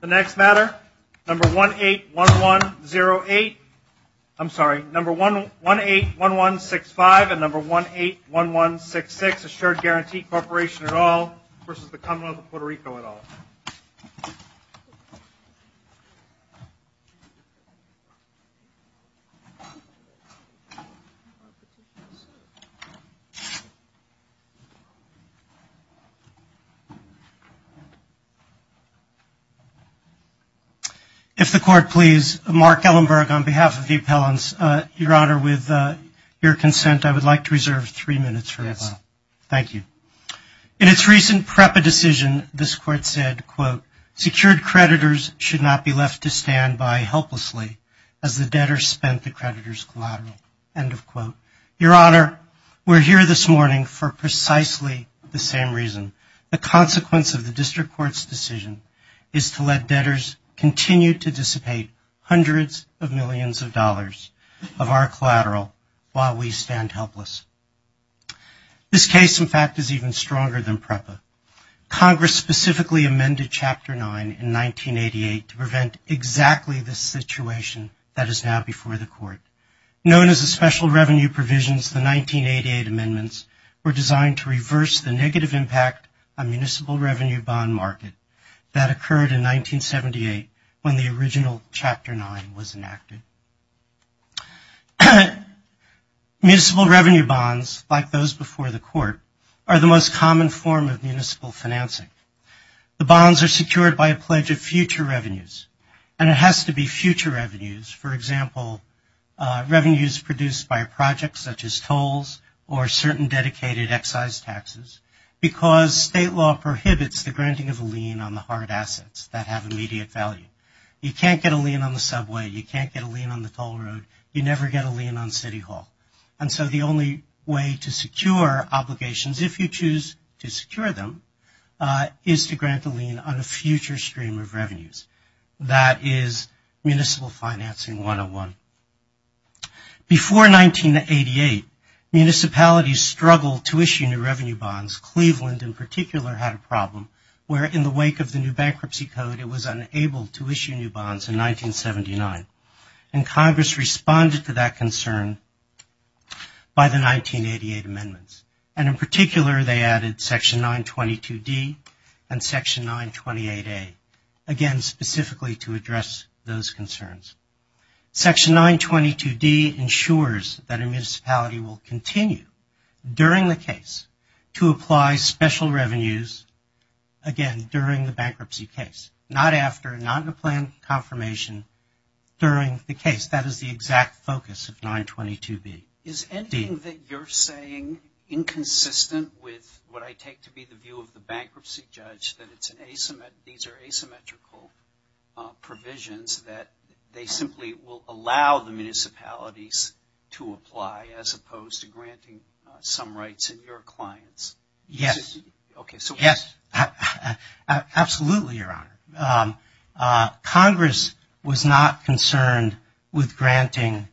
The next matter, number 181108, I'm sorry, number 181165 and number 181166, Assured Guaranty Corporation at all versus the Commonwealth of Puerto Rico at all. If the court please, Mark Ellenberg on behalf of the appellants, your honor with your consent I would like to reserve three minutes for a while. Thank you. In its recent PREPA decision, this court said, quote, secured creditors should not be left to stand by helplessly as the debtor spent the creditor's collateral, end of quote. Your honor, we're here this morning for precisely the same reason. The consequence of the district court's decision is to let debtors continue to dissipate hundreds of millions of dollars of our collateral while we stand helpless. This case, in fact, is even stronger than PREPA. Congress specifically amended Chapter 9 in 1988 to prevent exactly the situation that is now before the court. Known as the special revenue provisions, the 1988 amendments were designed to reverse the negative impact on municipal revenue bond market that occurred in 1978 when the original Chapter 9 was enacted. Municipal revenue bonds, like those before the court, are the most common form of municipal financing. The bonds are secured by a pledge of future revenues and it has to be future revenues, for example, revenues produced by a project such as tolls or certain dedicated excise taxes because state law prohibits the granting of a lien on the hard assets that have immediate value. You can't get a lien on the subway. You can't get a lien on the toll road. You never get a lien on City Hall. And so the only way to secure obligations, if you choose to secure them, is to grant a lien on a future stream of revenues. That is municipal financing 101. Before 1988, municipalities struggled to issue new revenue bonds. Cleveland, in particular, had a problem where, in the wake of the new bankruptcy code, it was unable to issue new bonds in 1979. And Congress responded to that concern by the 1988 amendments. And in particular, they added Section 922D and Section 928A, again, specifically to address those concerns. Section 922D ensures that a municipality will continue, during the case, to apply special revenues, again, during the bankruptcy case. Not after, not in a planned confirmation, during the case. That is the exact focus of 922D. Is anything that you're saying inconsistent with what I take to be the view of the bankruptcy judge, that these are asymmetrical provisions that they simply will allow the municipalities to apply as opposed to granting some rights in your clients? Yes. Okay. So, yes. Absolutely, Your Honor. Congress was not concerned with granting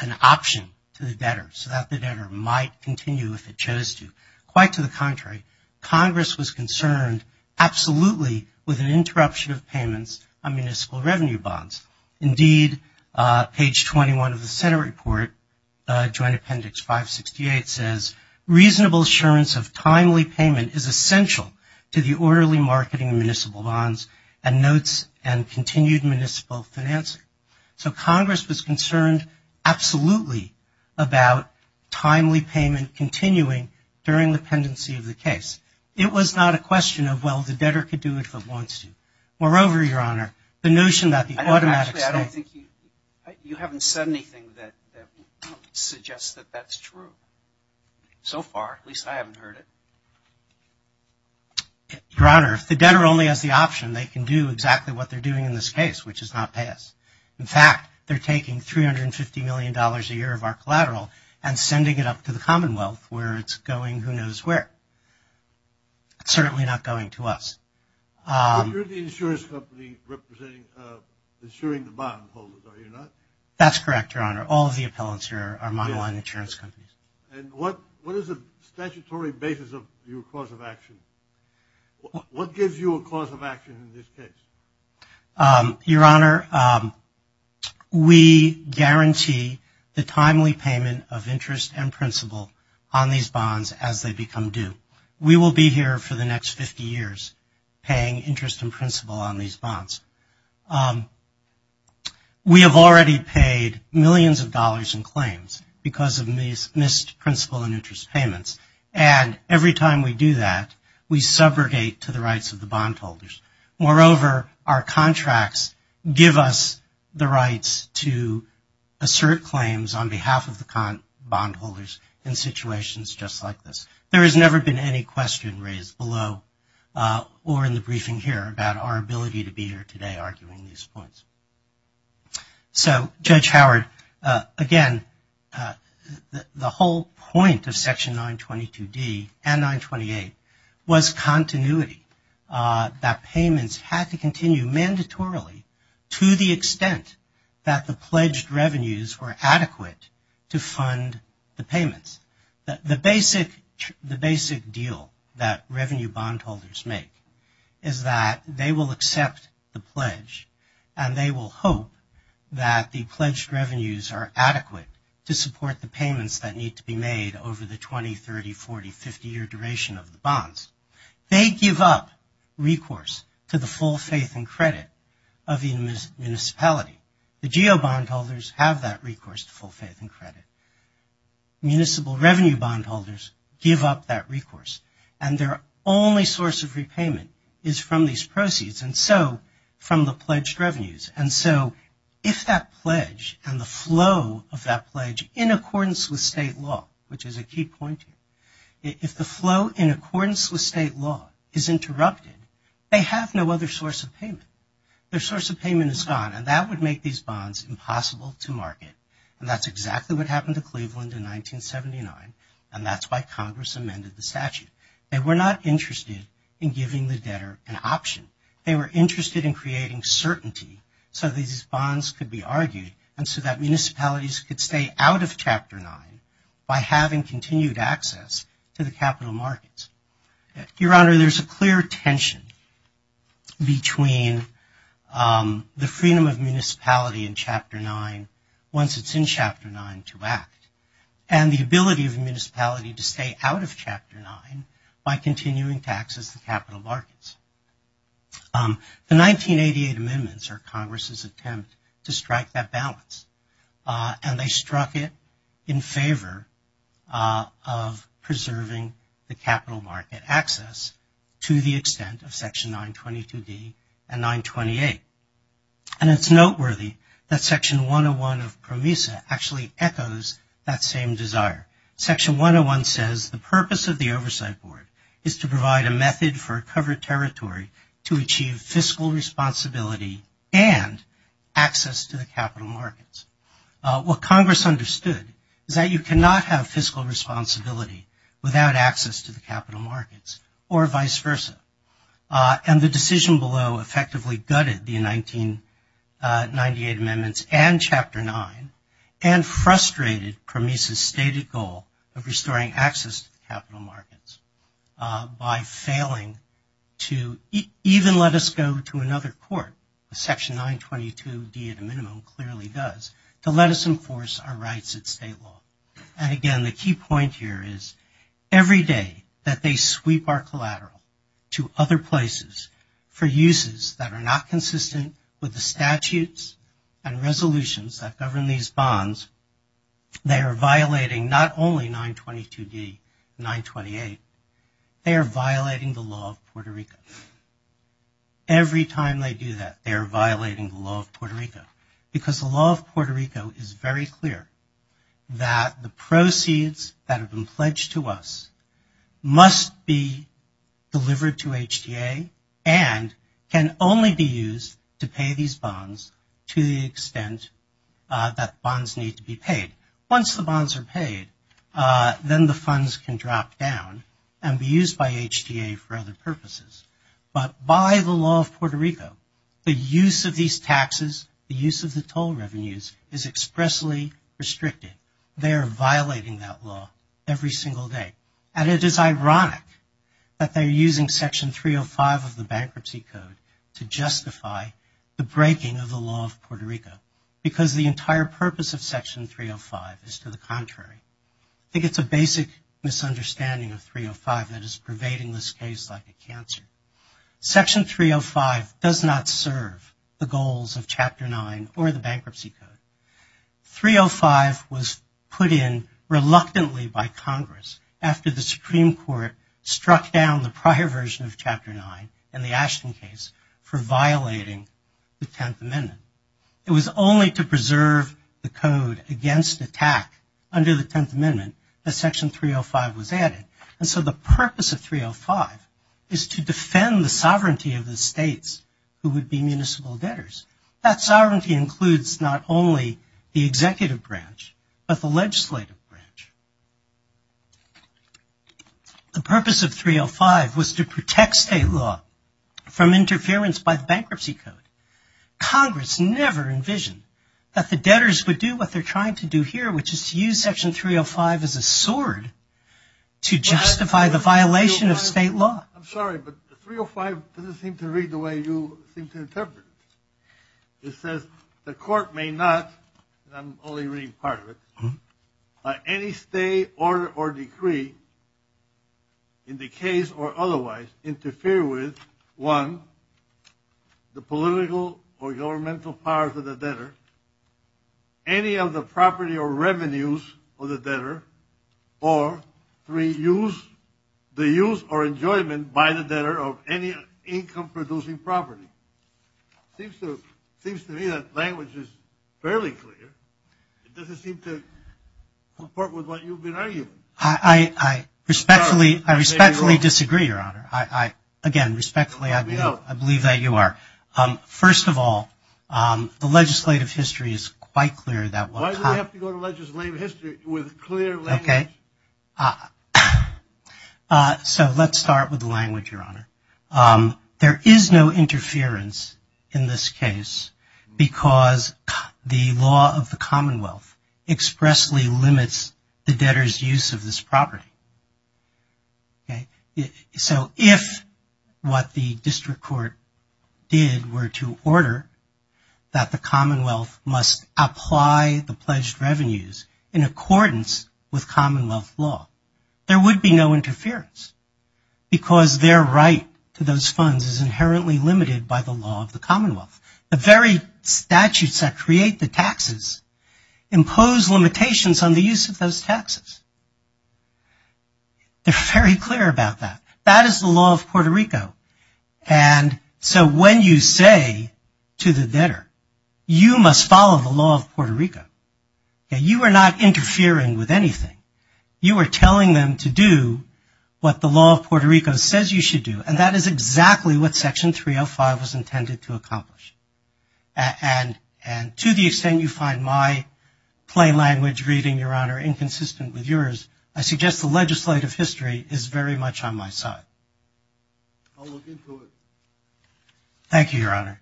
an option to the debtor so that the debtor might continue if it chose to. Quite to the contrary, Congress was concerned, absolutely, with an interruption of payments on municipal revenue bonds. Indeed, page 21 of the Senate report, Joint Appendix 568, says, reasonable assurance of timely payment is essential to the orderly marketing of municipal bonds and notes and continued municipal financing. So, Congress was concerned, absolutely, about timely payment continuing during the pendency of the case. It was not a question of, well, the debtor could do it if it wants to. Moreover, Your Honor, the notion that the automatic state... Actually, I don't think you... You haven't said anything that suggests that that's true. So far, at least I haven't heard it. Your Honor, if the debtor only has the option, they can do exactly what they're doing in this case, which is not pay us. In fact, they're taking $350 million a year of our collateral and sending it up to the Commonwealth where it's going who knows where. It's certainly not going to us. You're the insurance company representing, insuring the bondholders, are you not? That's correct, Your Honor. All of the appellants here are monoline insurance companies. And what is the statutory basis of your cause of action? What gives you a cause of action in this case? Your Honor, we guarantee the timely payment of interest and principal on these bonds as they become due. We will be here for the next 50 years paying interest and principal on these bonds. We have already paid millions of dollars in claims because of missed principal and interest payments. And every time we do that, we subrogate to the rights of the bondholders. Moreover, our contracts give us the rights to assert claims on behalf of the bondholders in situations just like this. There has never been any question raised below or in the briefing here about our ability to be here today arguing these points. So, Judge Howard, again, the whole point of Section 922D and 928 was continuity, that payments had to continue mandatorily to the extent that the pledged revenues were adequate to fund the payments. The basic deal that revenue bondholders make is that they will accept the pledge and they will hope that the pledged revenues are adequate to support the payments that need to be made over the 20, 30, 40, 50-year duration of the bonds. They give up recourse to the full faith and credit of the municipality. The GEO bondholders have that recourse to full faith and credit. Municipal revenue bondholders give up that recourse and their only source of repayment is from these proceeds and so from the pledged revenues. And so, if that pledge and the flow of that pledge in accordance with state law, which is a key point here, if the flow in accordance with state law is interrupted, they have no other source of payment. Their source of payment is gone and that would make these bonds impossible to market and that's exactly what happened to Cleveland in 1979 and that's why Congress amended the statute. They were not interested in giving the debtor an option. They were interested in creating certainty so these bonds could be argued and so that municipalities could stay out of Chapter 9 by having continued access to the capital markets. Your Honor, there's a clear tension between the freedom of municipality in Chapter 9 once it's in Chapter 9 to act and the ability of a municipality to stay out of Chapter 9 by continuing to access the capital markets. The 1988 amendments are Congress's attempt to strike that balance and they struck it in favor of preserving the capital market access to the extent of Section 922D and 928. And it's noteworthy that Section 101 of PROMESA actually echoes that same desire. Section 101 says the purpose of the Oversight Board is to provide a method for a covered territory to achieve fiscal responsibility and access to the capital markets. What Congress understood is that you cannot have fiscal responsibility without access to the capital markets or vice versa. And the decision below effectively gutted the 1998 amendments and Chapter 9 and frustrated PROMESA's stated goal of restoring access to the capital markets by failing to even let us go to another court, Section 922D at a minimum clearly does, to let us enforce our rights at state law. And again, the key point here is every day that they sweep our collateral to other places for uses that are not consistent with the statutes and resolutions that govern these bonds, they are violating not only 922D and 928, they are violating the law of Puerto Rico. Every time they do that, they are violating the law of Puerto Rico. Because the law of Puerto Rico is very clear that the proceeds that have been pledged to us must be delivered to HTA and can only be used to pay these bonds to the extent that bonds need to be paid. Once the bonds are paid, then the funds can drop down and be used by HTA for other purposes. But by the law of Puerto Rico, the use of these taxes, the use of the toll revenues is expressly restricted. They are violating that law every single day. And it is ironic that they are using Section 305 of the Bankruptcy Code to justify the breaking of the law of Puerto Rico. Because the entire purpose of Section 305 is to the contrary. I think it's a basic misunderstanding of 305 that is pervading this case like a cancer. Section 305 does not serve the goals of Chapter 9 or the Bankruptcy Code. 305 was put in reluctantly by Congress after the Supreme Court struck down the prior version of Chapter 9 in the Ashton case for violating the Tenth Amendment. It was only to preserve the code against attack under the Tenth Amendment that Section 305 was added. And so the purpose of 305 is to defend the sovereignty of the states who would be municipal debtors. That sovereignty includes not only the executive branch, but the legislative branch. The purpose of 305 was to protect state law from interference by the Bankruptcy Code. Congress never envisioned that the debtors would do what they're trying to do here, which is to use Section 305 as a sword to justify the violation of state law. I'm sorry, but 305 doesn't seem to read the way you seem to interpret it. It says, the court may not, and I'm only reading part of it, by any state order or decree, in the case or otherwise, interfere with, one, the political or governmental powers of the debtor, any of the property or revenues of the debtor, or, three, use, the use or enjoyment by the debtor of any income-producing property. Seems to me that language is fairly clear. It doesn't seem to comport with what you've been arguing. I respectfully disagree, Your Honor. Again, respectfully, I believe that you are. First of all, the legislative history is quite clear. Why do we have to go to legislative history with clear language? So let's start with the language, Your Honor. There is no interference in this case because the law of the Commonwealth expressly limits the debtor's use of this property. So if what the district court did were to order that the Commonwealth must apply the pledged revenues in accordance with Commonwealth law, there would be no interference because their right to those funds is inherently limited by the law of the Commonwealth. The very statutes that create the taxes impose limitations on the use of those taxes. They're very clear about that. That is the law of Puerto Rico. And so when you say to the debtor, you must follow the law of Puerto Rico, you are not interfering with anything. You are telling them to do what the law of Puerto Rico says you should do, and that is exactly what Section 305 was intended to accomplish. And to the extent you find my plain language reading, Your Honor, inconsistent with yours, I suggest the legislative history is very much on my side. I'll look into it. Thank you, Your Honor.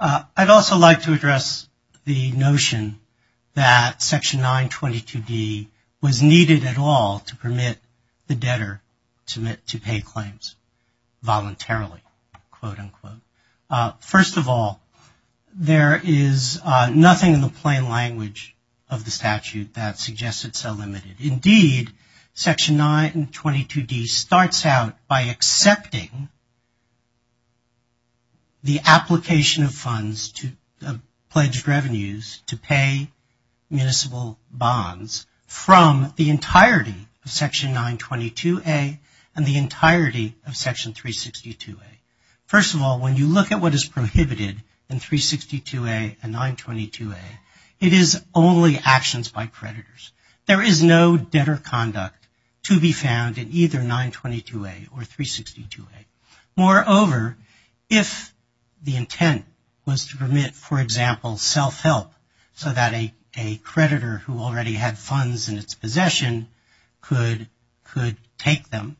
I'd also like to address the notion that Section 922d was needed at all to permit the debtor to pay claims voluntarily, quote, unquote. First of all, there is nothing in the plain language of the statute that suggests it's so limited. Indeed, Section 922d starts out by accepting the application of funds to pledged revenues to pay municipal bonds from the entirety of Section 922a and the entirety of Section 362a. First of all, when you look at what is prohibited in 362a and 922a, it is only actions by creditors. There is no debtor conduct to be found in either 922a or 362a. Moreover, if the intent was to permit, for example, self-help so that a creditor who already had funds in its possession could take them,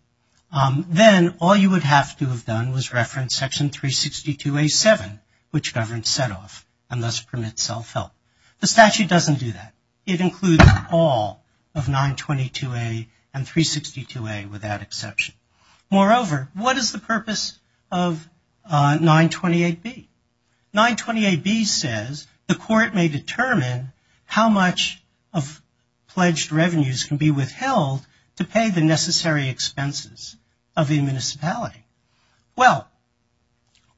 then all you would have to have done was reference Section 362a-7, which governs set-off and thus permits self-help. The statute doesn't do that. It includes all of 922a and 362a without exception. Moreover, what is the purpose of 928b? 928b says the court may determine how much of pledged revenues can be withheld to pay the necessary expenses of a municipality. Well,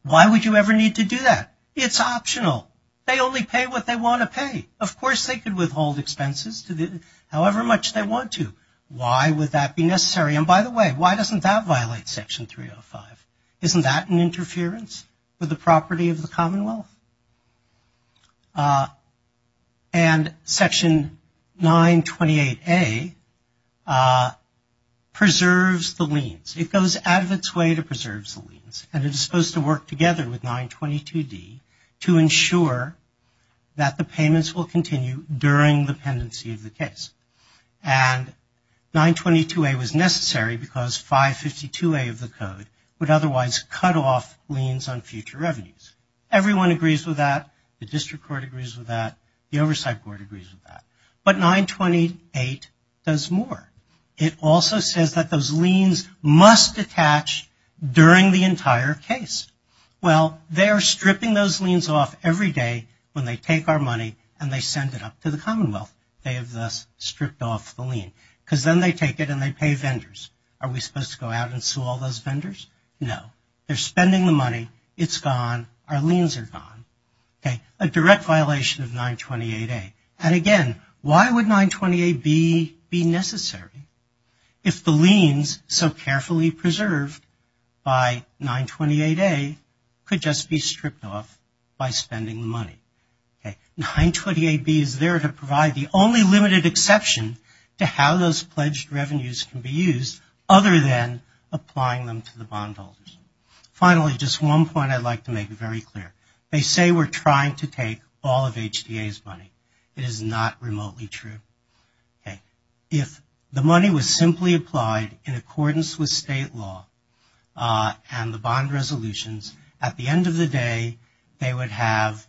why would you ever need to do that? It's optional. They only pay what they want to pay. Of course, they could withhold expenses to however much they want to. Why would that be necessary? And by the way, why doesn't that violate Section 305? Isn't that an interference with the property of the Commonwealth? And Section 928a preserves the liens. It goes out of its way to preserve the liens and it's supposed to work together with 922d to ensure that the payments will continue during the pendency of the case. And 922a was necessary because 552a of the code would otherwise cut off liens on future revenues. Everyone agrees with that. The District Court agrees with that. The Oversight Court agrees with that. But 928 does more. It also says that those liens must detach during the entire case. Well, they are stripping those liens off every day when they take our money and they send it up to the Commonwealth. They have thus stripped off the lien because then they take it and they pay vendors. Are we supposed to go out and sue all those vendors? No. They're spending the money. It's gone. Our liens are gone. A direct violation of 928a. And again, why would 928b be necessary if the liens so carefully preserved by 928a could just be stripped off by spending the money? 928b is there to provide the only limited exception to how those pledged revenues can be used other than applying them to the bondholders. Finally, just one point I'd like to make very clear. They say we're trying to take all of HTA's money. It is not remotely true. If the money was simply applied in accordance with state law and the bond resolutions, at the end of the day, they would have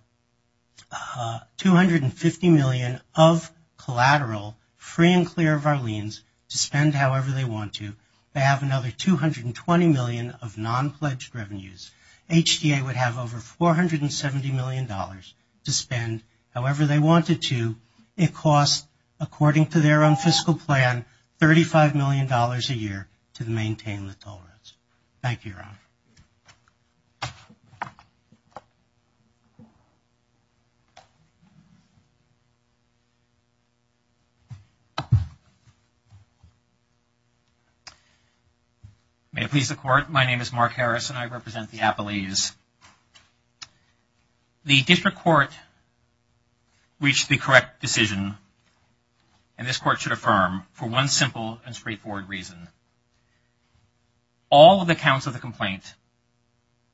$250 million of collateral, free and clear of our liens, to spend however they want to. They have another $220 million of non-pledged revenues. HTA would have over $470 million to spend however they wanted to. It costs, according to their own fiscal plan, $35 million a year to maintain the tolerance. Thank you, Ron. May it please the Court. My name is Mark Harris and I represent the Appalachians. The District Court reached the correct decision, and this Court should affirm, for one simple and straightforward reason. All of the counts of the complaint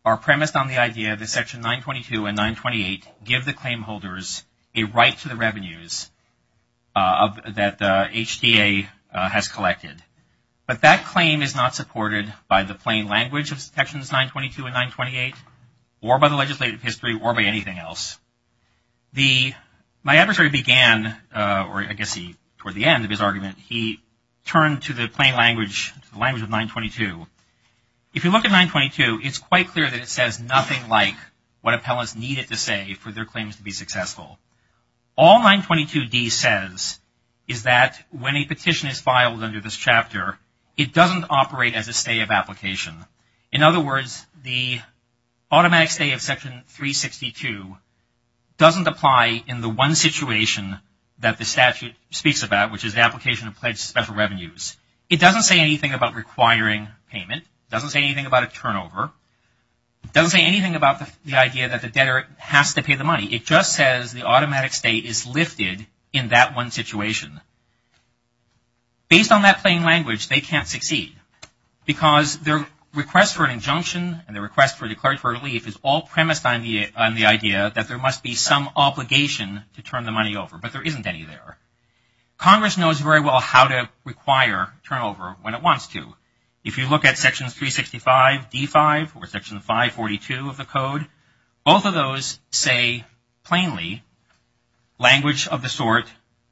are premised on the idea that Section 922 and 928 give the claimholders a right to the revenues that HTA has collected. But that claim is not supported by the plain language of Sections 922 and 928, or by the legislative history, or by anything else. My adversary began, or I guess toward the end of his argument, he turned to the plain language, the language of 922. If you look at 922, it's quite clear that it says nothing like what appellants needed to say for their claims to be successful. All 922d says is that when a petition is filed under this chapter, it doesn't operate as a stay of application. In other words, the automatic stay of Section 362 doesn't apply in the one situation that the statute speaks about, which is the application of pledged special revenues. It doesn't say anything about requiring payment. It doesn't say anything about a turnover. It doesn't say anything about the idea that the debtor has to pay the money. It just says the automatic stay is lifted in that one situation. Based on that plain language, they can't succeed because their request for an injunction and their request for declaratory relief is all premised on the idea that there must be some obligation to turn the money over. But there isn't any there. Congress knows very well how to require turnover when it wants to. If you look at Sections 365, D5, or Section 542 of the Code, both of those say plainly language of the sort,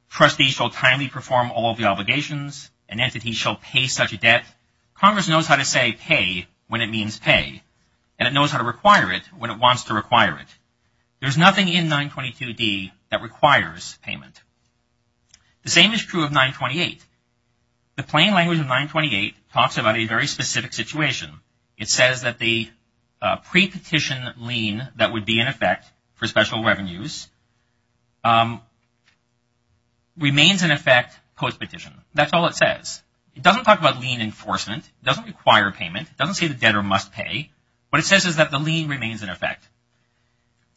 trustee shall timely perform all of the obligations, an entity shall pay such a debt. Congress knows how to say pay when it means pay, and it knows how to require it when it wants to require it. There's nothing in 922d that requires payment. The same is true of 928. The plain language of 928 talks about a very specific situation. It says that the pre-petition lien that would be in effect for special revenues remains in effect post-petition. That's all it says. It doesn't talk about lien enforcement. It doesn't require payment. It doesn't say the debtor must pay. What it says is that the lien remains in effect.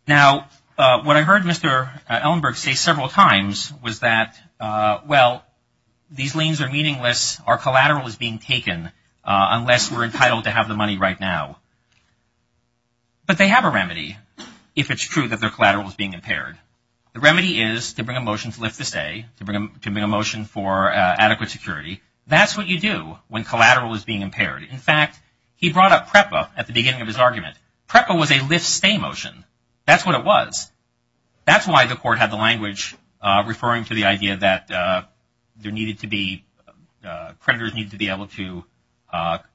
Now, what I heard Mr. Ellenberg say several times was that, well, these liens are meaningless. Our collateral is being taken unless we're entitled to have the money right now. But they have a remedy if it's true that their collateral is being impaired. The remedy is to bring a motion to lift the stay, to bring a motion for adequate security. That's what you do when collateral is being impaired. In fact, he brought up PREPA at the beginning of his argument. PREPA was a lift-stay motion. That's what it was. That's why the court had the language referring to the idea that there needed to be, creditors needed to be able to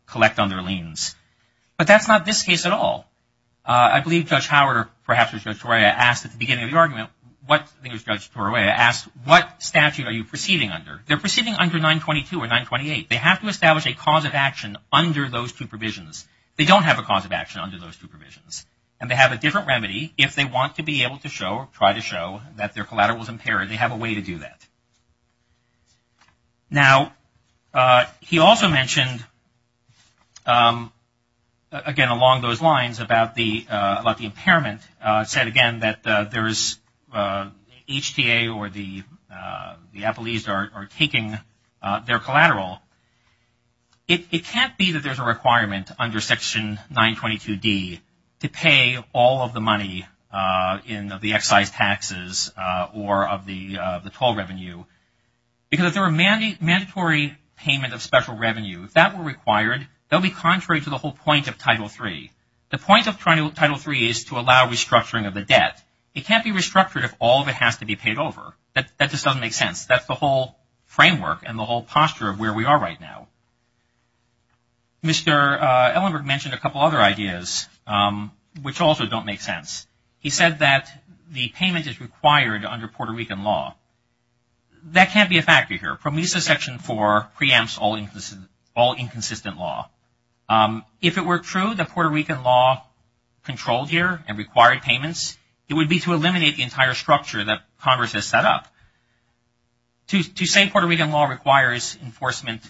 collect on their liens. But that's not this case at all. I believe Judge Howard, or perhaps it was Judge Torreya, asked at the beginning of the argument, I think it was Judge Torreya, asked, what statute are you proceeding under? They're proceeding under 922 or 928. They have to establish a cause of action under those two provisions. They don't have a cause of action under those two provisions. And they have a different remedy if they want to be able to show or try to show that their collateral is impaired, they have a way to do that. Now, he also mentioned, again, along those lines about the impairment, said again that there is HTA or the Appellees are taking their collateral. It can't be that there's a requirement under Section 922d to pay all of the money in the excise taxes or of the toll revenue. Because if there were a mandatory payment of special revenue, if that were required, that would be contrary to the whole point of Title III. The point of Title III is to allow restructuring of the debt. It can't be restructured if all of it has to be paid over. That just doesn't make sense. That's the whole framework and the whole posture of where we are. Right now, Mr. Ellenberg mentioned a couple other ideas, which also don't make sense. He said that the payment is required under Puerto Rican law. That can't be a factor here. PROMESA Section 4 preempts all inconsistent law. If it were true that Puerto Rican law controlled here and required payments, it would be to eliminate the entire structure that Congress has set up. To say Puerto Rican law requires payment,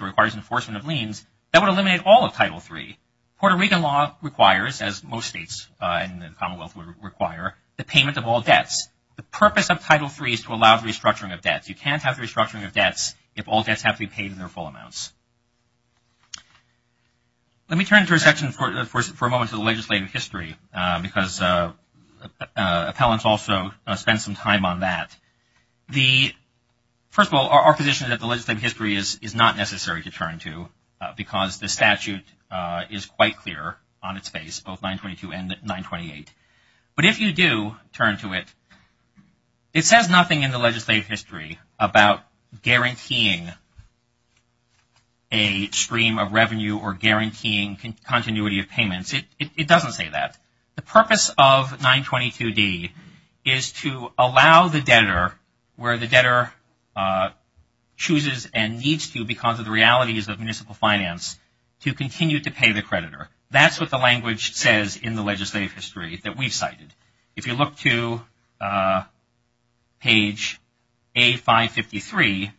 requires enforcement of liens, that would eliminate all of Title III. Puerto Rican law requires, as most states in the Commonwealth would require, the payment of all debts. The purpose of Title III is to allow the restructuring of debts. You can't have the restructuring of debts if all debts have to be paid in their full amounts. Let me turn to a section for a moment to the legislative history, because appellants also spend some time on that. First of all, our position is that the legislative history is not necessary to turn to, because the statute is quite clear on its face, both 922 and 928. But if you do turn to it, it says nothing in the legislative history about guaranteeing a stream of revenue or guaranteeing continuity of payments. It doesn't say that. The purpose of 922d is to allow the debtor, where the debtor chooses and needs to, because of the realities of municipal finance, to continue to pay the creditor. That's what the language says in the legislative history that we've cited. If you look to page A553,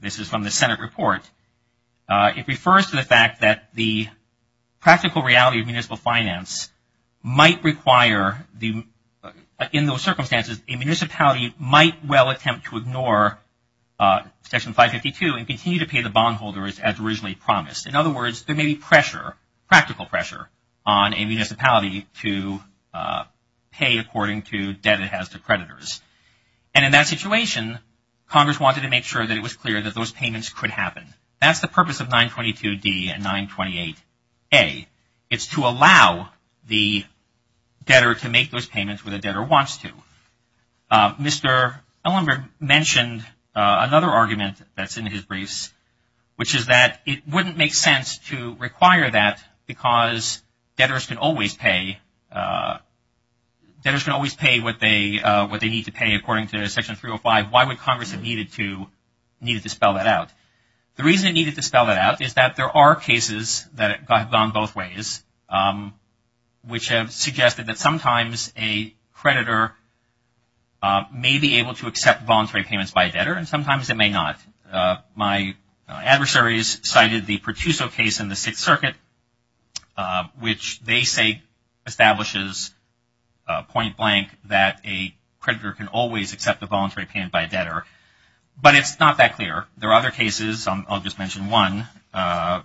this is from the Senate report, it refers to the fact that the practical reality of municipal finance might require, in those circumstances, a municipality might well attempt to ignore section 552 and continue to pay the bondholders as originally promised. In other words, there may be pressure, practical pressure, on a municipality to pay according to debt it has to creditors. And in that situation, Congress wanted to make sure that it was clear that those payments could happen. That's the purpose of 922d and 928a. It's to allow the debtor to make those payments where the debtor wants to. Mr. Ellenberg mentioned another argument that's in his briefs, which is that it wouldn't make sense to require that because debtors can always pay, debtors can always pay what they need to pay according to section 305. Why would Congress have needed to spell that out? The reason it needed to spell that out is that there are cases that have gone both ways, which have suggested that sometimes a creditor may be able to accept voluntary payments by a debtor and sometimes it may not. My adversaries cited the Pertuzzo case in the Sixth Circuit, which they say establishes point blank that a creditor can always accept a voluntary payment by a debtor. But it's not that clear. There are other cases. I'll just mention one, a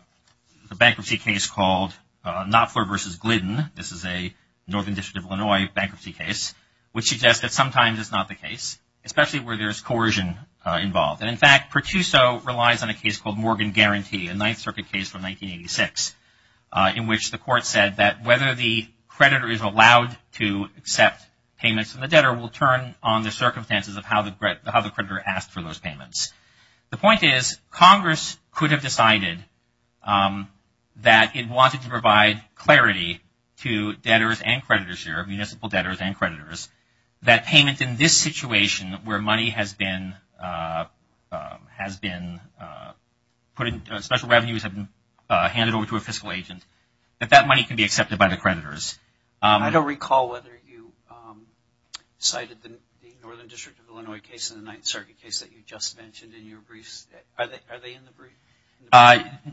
bankruptcy case called Knopfler v. Glidden. This is a Northern District of Illinois bankruptcy case, which suggests that sometimes it's not the case, especially where there's coercion involved. And in fact, Pertuzzo relies on a case called Morgan Guarantee, a Ninth Circuit case from 1986, in which the court said that whether the creditor is allowed to accept payments from the debtor will turn on the circumstances of how the creditor asked for those payments. The point is, Congress could have decided that it wanted to provide clarity to debtors and creditors here, municipal debtors and creditors, that payment in this situation where money has been put in, special revenues have been handed over to a fiscal agent, that that money can be accepted by the creditors. I don't recall whether you cited the Northern District of Illinois case and the Ninth Circuit case that you just mentioned in your briefs. Are they in the brief?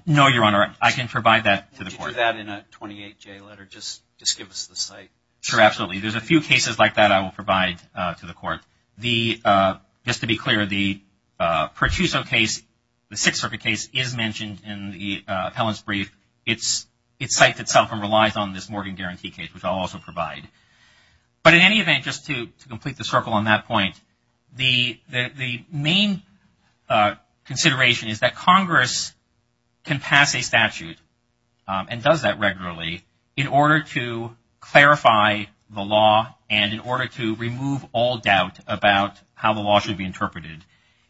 No, Your Honor. I can provide that to the court. Would you do that in a 28-J letter? Just give us the cite. Sure, absolutely. There's a few cases like that I will provide to the court. Just to be clear, the Pertuzzo case, the Sixth Circuit case, is mentioned in the appellant's brief. It cites itself and relies on this Morgan Guarantee case, which I'll also provide. But in any event, just to complete the circle on that point, the main consideration is that Congress can pass a statute and does that regularly in order to clarify the law and in order to remove all doubt about how the law should be interpreted.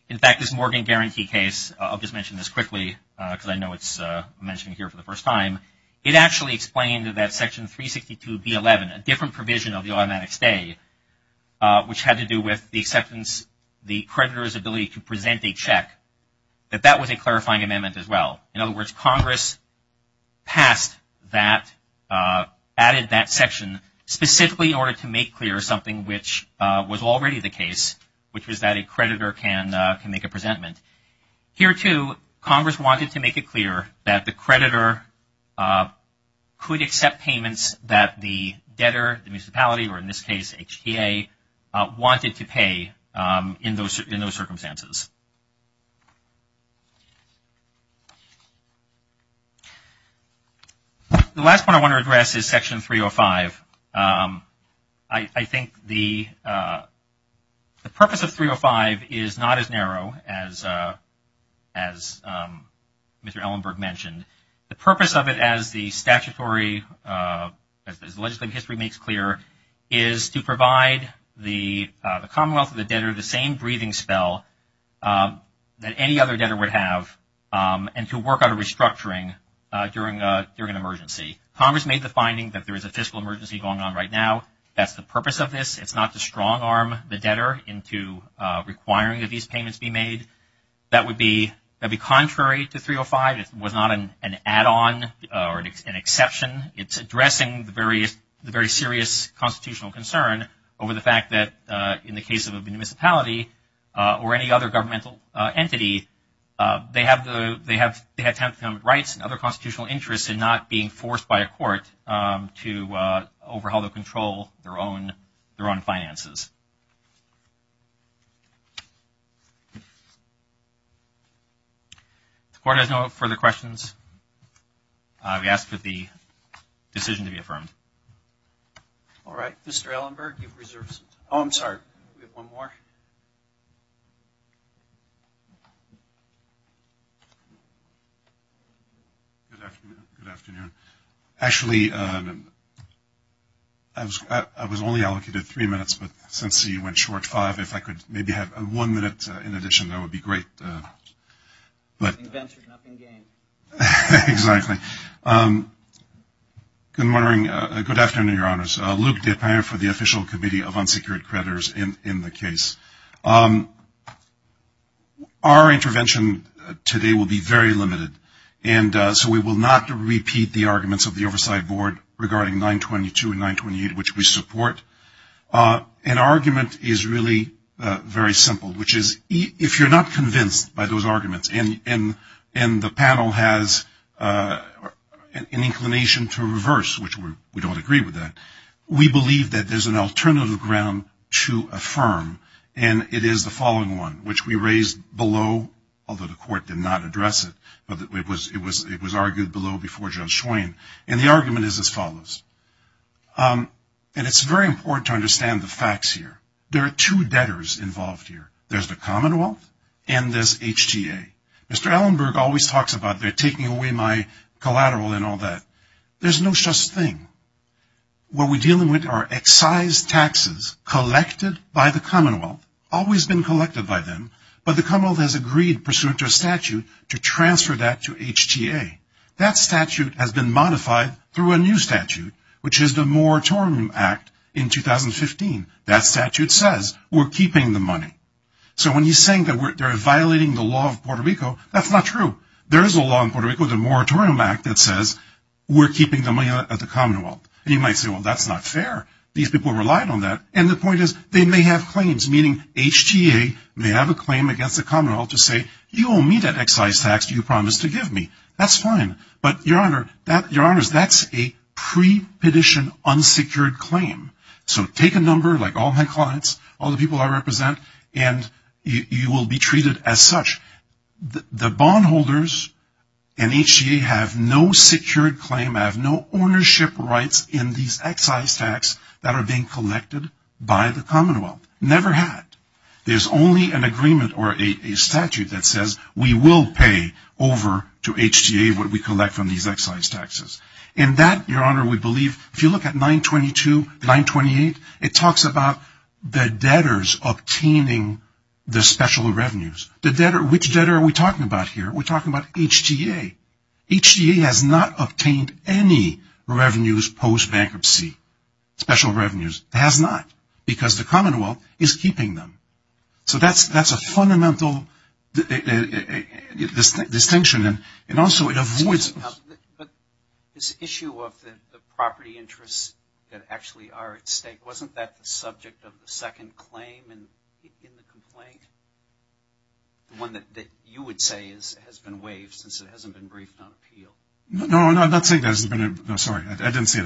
In fact, this Morgan Guarantee case, I'll just mention this quickly because I know it's mentioned here for the first time, it actually explained that Section 362B11, a different provision of the automatic stay, which had to do with the creditor's ability to present a check, that that was a clarifying amendment as well. In other words, Congress passed that, added that section specifically in order to make clear something which was already the case, which was that a creditor can make a presentment. Here too, Congress wanted to make it clear that the creditor could accept payments that the debtor, the municipality, or in this case HTA, wanted to pay in those circumstances. The last point I want to address is Section 305. I think the purpose of 305 is not as narrow as Mr. Ellenberg mentioned. The purpose of it as the statutory, as the legislative history makes clear, is to provide the Commonwealth or the debtor the same breathing spell that any other debtor would have and to work out a restructuring during an emergency. Congress made the finding that there is a fiscal emergency going on right now. That's the purpose of this. It's not to strong arm the debtor into requiring that these payments be made. That would be contrary to 305. It was not an add-on or an exception. It's addressing the very serious constitutional concern over the fact that in the case of a municipality or any other governmental entity, they have rights and other constitutional interests in not being forced by a court to overhaul or control their own finances. The court has no further questions. I would ask for the decision to be affirmed. All right. Mr. Ellenberg, you've reserved some time. Oh, I'm sorry. We have one more. Good afternoon. Good afternoon. Actually, I was only allocated three minutes, but since you went short five, if I could maybe have one minute in addition, that would be great. Invention, nothing gained. Exactly. Good morning. Good afternoon, Your Honors. Luke DePeyer for the Official Committee of Unsecured Creditors in the case. Our intervention today will be very limited, and so we will not repeat the arguments of the Oversight Board regarding 922 and 928, which we support. An argument is really very simple, which is if you're not convinced by those arguments, and the panel has an inclination to reverse, which we don't agree with that, we believe that there's an alternative ground to affirm, and it is the following one, which we raised below, although the court did not address it, but it was argued below before Judge Schwein, and the argument is as follows. And it's very important to understand the facts here. There are two debtors involved here. There's the Commonwealth and there's HTA. Mr. Allenberg always talks about they're taking away my collateral and all that. There's no such thing. What we're dealing with are excised taxes collected by the Commonwealth, always been collected by them, but the Commonwealth has agreed pursuant to a statute to transfer that to HTA. That statute has been modified through a new statute, which is the Moore-Torrent Act in 2015. That statute says we're keeping the money. So when he's saying that they're violating the law of Puerto Rico, that's not true. There is a law in Puerto Rico, the Moore-Torrent Act, that says we're keeping the money at the Commonwealth. And you might say, well, that's not fair. These people relied on that. And the point is they may have claims, meaning HTA may have a claim against the Commonwealth to say, you owe me that excised tax you promised to give me. That's fine. But, Your Honor, that's a pre-petition unsecured claim. So take a number, like all my clients, all the people I represent, and you will be treated as such. The bondholders in HTA have no secured claim, have no ownership rights in these excised tax that are being collected by the Commonwealth. Never had. There's only an agreement or a statute that says we will pay over to HTA what we collect from these excised taxes. And that, Your Honor, we believe, if you look at 922, 928, it talks about the debtors obtaining the special revenues. Which debtor are we talking about here? We're talking about HTA. HTA has not obtained any revenues post-bankruptcy. Special revenues. Has not. Because the Commonwealth is keeping them. So that's a fundamental distinction. And also it avoids... But this issue of the property interests that actually are at stake, wasn't that the subject of the second claim in the complaint? The one that you would say has been waived since it hasn't been briefed on appeal? No, no, I'm not saying that it hasn't been... No, sorry. I didn't say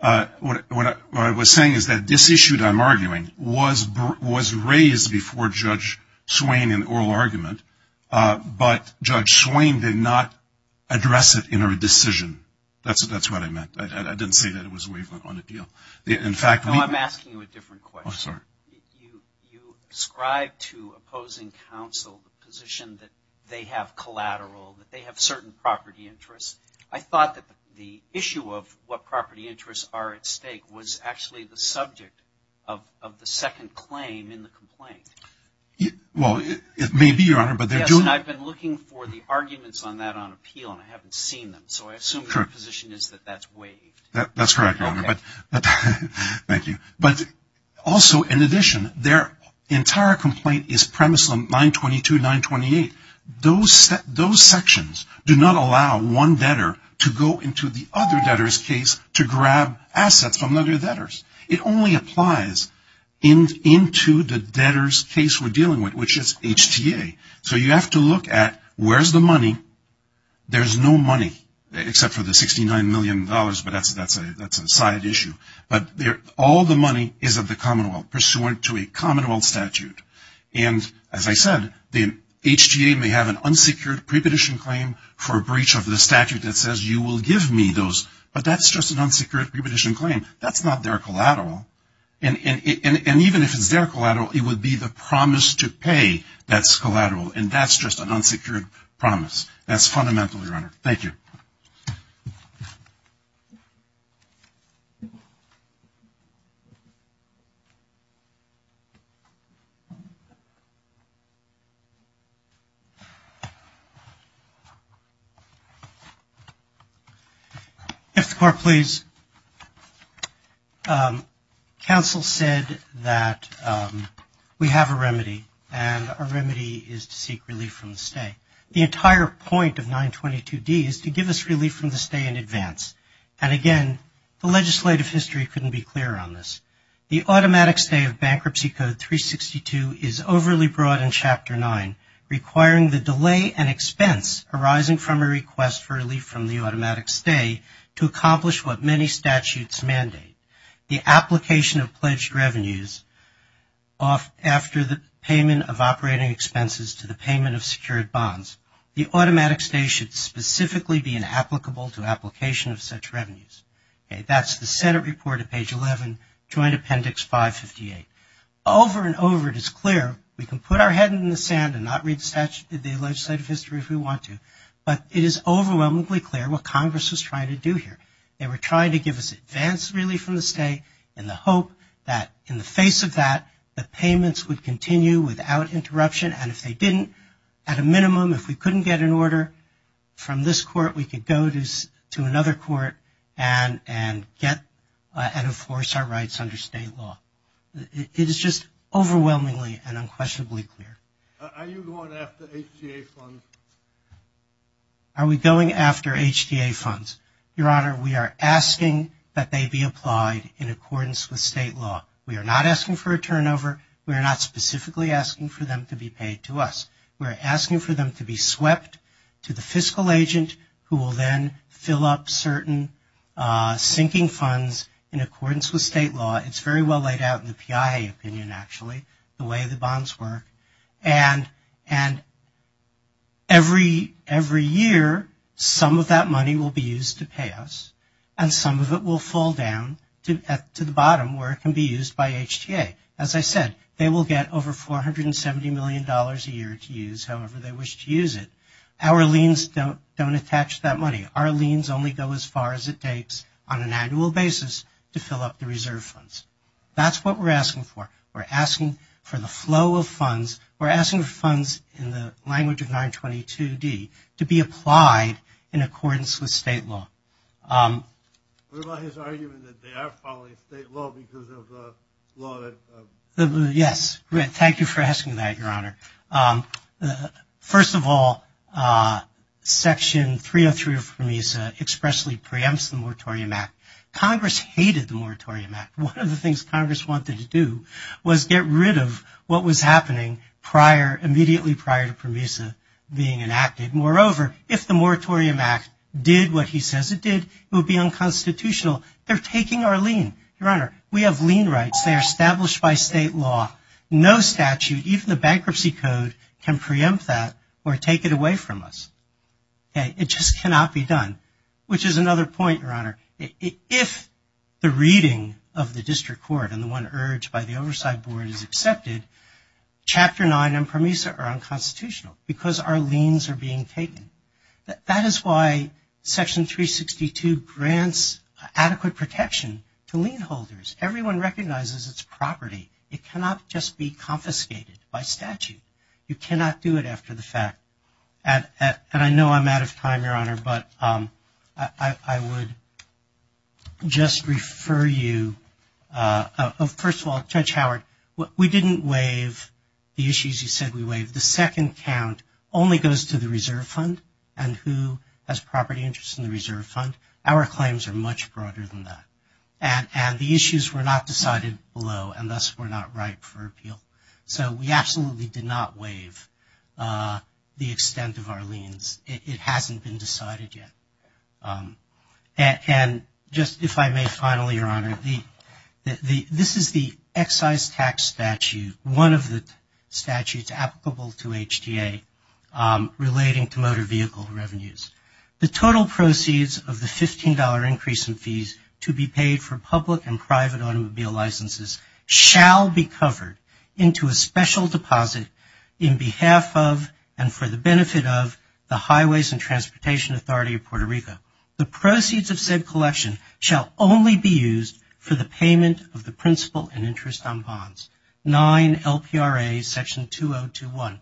that. What I was saying is that this issue that I'm arguing was raised before Judge Swain in the oral argument, but Judge Swain did not address it in her decision. That's what I meant. I didn't say that it was waived on appeal. In fact, we... No, I'm asking you a different question. Oh, sorry. You ascribe to opposing counsel the position that they have collateral, that they have certain property interests. I thought that the issue of what property interests are at stake was actually the subject of the second claim in the complaint. Well, it may be, Your Honor, but they're doing... Yes, and I've been looking for the arguments on that on appeal and I haven't seen them. So I assume your position is that that's waived. That's correct, Your Honor. But... Thank you. But also in addition, their entire complaint is premise on 922, 928. Those sections do not allow one debtor to go into the other debtor's case to grab assets from other debtors. It only applies into the debtor's case we're dealing with, which is HTA. So you have to look at where's the money. There's no money except for the $69 million, but that's a side issue. But all the money is of the Commonwealth, pursuant to a Commonwealth statute. And as I said, the HTA may have an unsecured prepetition claim for a breach of the statute that says, you will give me those, but that's just an unsecured prepetition claim. That's not their collateral. And even if it's their collateral, it would be the promise to pay that's collateral. And that's just an unsecured promise. That's fundamental, Your Honor. Thank you. If the Court please. Counsel said that we have a remedy and our remedy is to seek relief from the stay. The entire point of 922D is to give us relief from the stay in advance. And again, the legislative history couldn't be clear on this. The automatic stay of Bankruptcy Code 362 is overly broad in Chapter 9, requiring the delay and expense arising from a request for relief from the automatic stay to accomplish what many statutes mandate. The application of pledged revenues after the payment of operating expenses to the payment of secured bonds. The automatic stay should specifically be applicable to application of such revenues. Okay, that's the Senate report at page 11, Joint Appendix 558. Over and over, it is clear we can put our head in the sand and not read the legislative history if we want to. But it is overwhelmingly clear what Congress was trying to do here. They were trying to give us advance relief from the stay in the hope that in the face of that, the payments would continue without interruption. And if they didn't, at a minimum, if we couldn't get an order from this Court, we could go to another Court and enforce our rights under state law. It is just overwhelmingly and unquestionably clear. Are you going after HTA funds? Are we going after HTA funds? Your Honor, we are asking that they be applied in accordance with state law. We are not asking for a turnover. We are not specifically asking for them to be paid to us. We're asking for them to be swept to the fiscal agent who will then fill up certain sinking funds in accordance with state law. It's very well laid out in the PIA opinion, actually, the way the bonds work. And every year, some of that money will be used to pay us and some of it will fall down to the bottom where it can be used by HTA. As I said, they will get over $470 million a year to use, however they wish to use it. Our liens don't attach that money. Our liens only go as far as it takes on an annual basis to fill up the reserve funds. That's what we're asking for. We're asking for the flow of funds. We're asking for funds in the language of 922d to be applied in accordance with state law. What about his argument that they are following state law because of the law that... Yes, thank you for asking that, Your Honor. First of all, Section 303 of PROMESA expressly preempts the Moratorium Act. Congress hated the Moratorium Act. One of the things Congress wanted to do was get rid of what was happening immediately prior to PROMESA being enacted. Moreover, if the Moratorium Act did what he says it did, it would be unconstitutional. They're taking our lien. Your Honor, we have lien rights. They are established by state law. No statute, even the Bankruptcy Code, can preempt that or take it away from us. It just cannot be done, which is another point, Your Honor. If the reading of the District Court and the one urged by the Oversight Board is accepted, Chapter 9 and PROMESA are unconstitutional because our liens are being taken. That is why Section 362 grants adequate protection to lien holders. Everyone recognizes its property. It cannot just be confiscated by statute. You cannot do it after the fact. And I know I'm out of time, Your Honor, but I would just refer you... First of all, Judge Howard, we didn't waive the issues you said we waived. The second count only goes to the Reserve Fund and who has property interest in the Reserve Fund. Our claims are much broader than that. And the issues were not decided below and thus were not ripe for appeal. So we absolutely did not waive the extent of our liens. It hasn't been decided yet. And just if I may, finally, Your Honor, this is the excise tax statute, one of the statutes applicable to HTA relating to motor vehicle revenues. The total proceeds of the $15 increase in fees to be paid for public and private automobile licenses shall be covered into a special deposit in behalf of and for the benefit of the Highways and Transportation Authority of Puerto Rico. The proceeds of said collection shall only be used for the payment of the principal and interest on bonds. 9 LPRA Section 2021.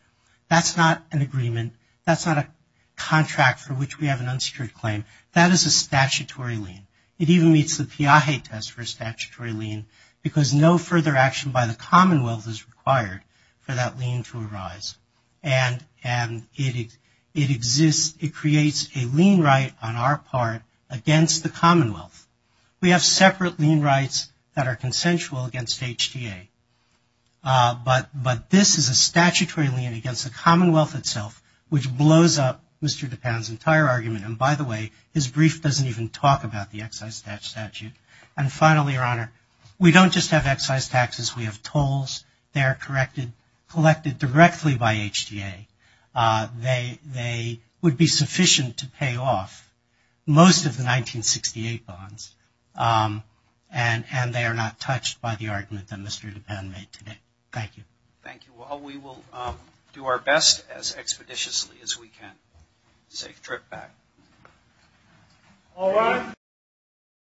That's not an agreement. That's not a contract for which we have an unsecured claim. That is a statutory lien. It even meets the PIAJE test for a statutory lien because no further action by the Commonwealth is required for that lien to arise. And it exists, it creates a lien right on our part against the Commonwealth. We have separate lien rights that are consensual against HTA. But this is a statutory lien against the Commonwealth itself which blows up Mr. Dupin's entire argument. And by the way, his brief doesn't even talk about the excise tax statute. And finally, Your Honor, we don't just have excise taxes. We have tolls. They are collected directly by HTA. They would be sufficient to pay off most of the 1968 bonds. And they are not touched by the argument that Mr. Dupin made today. Thank you. Thank you all. We will do our best as expeditiously as we can. Safe trip back.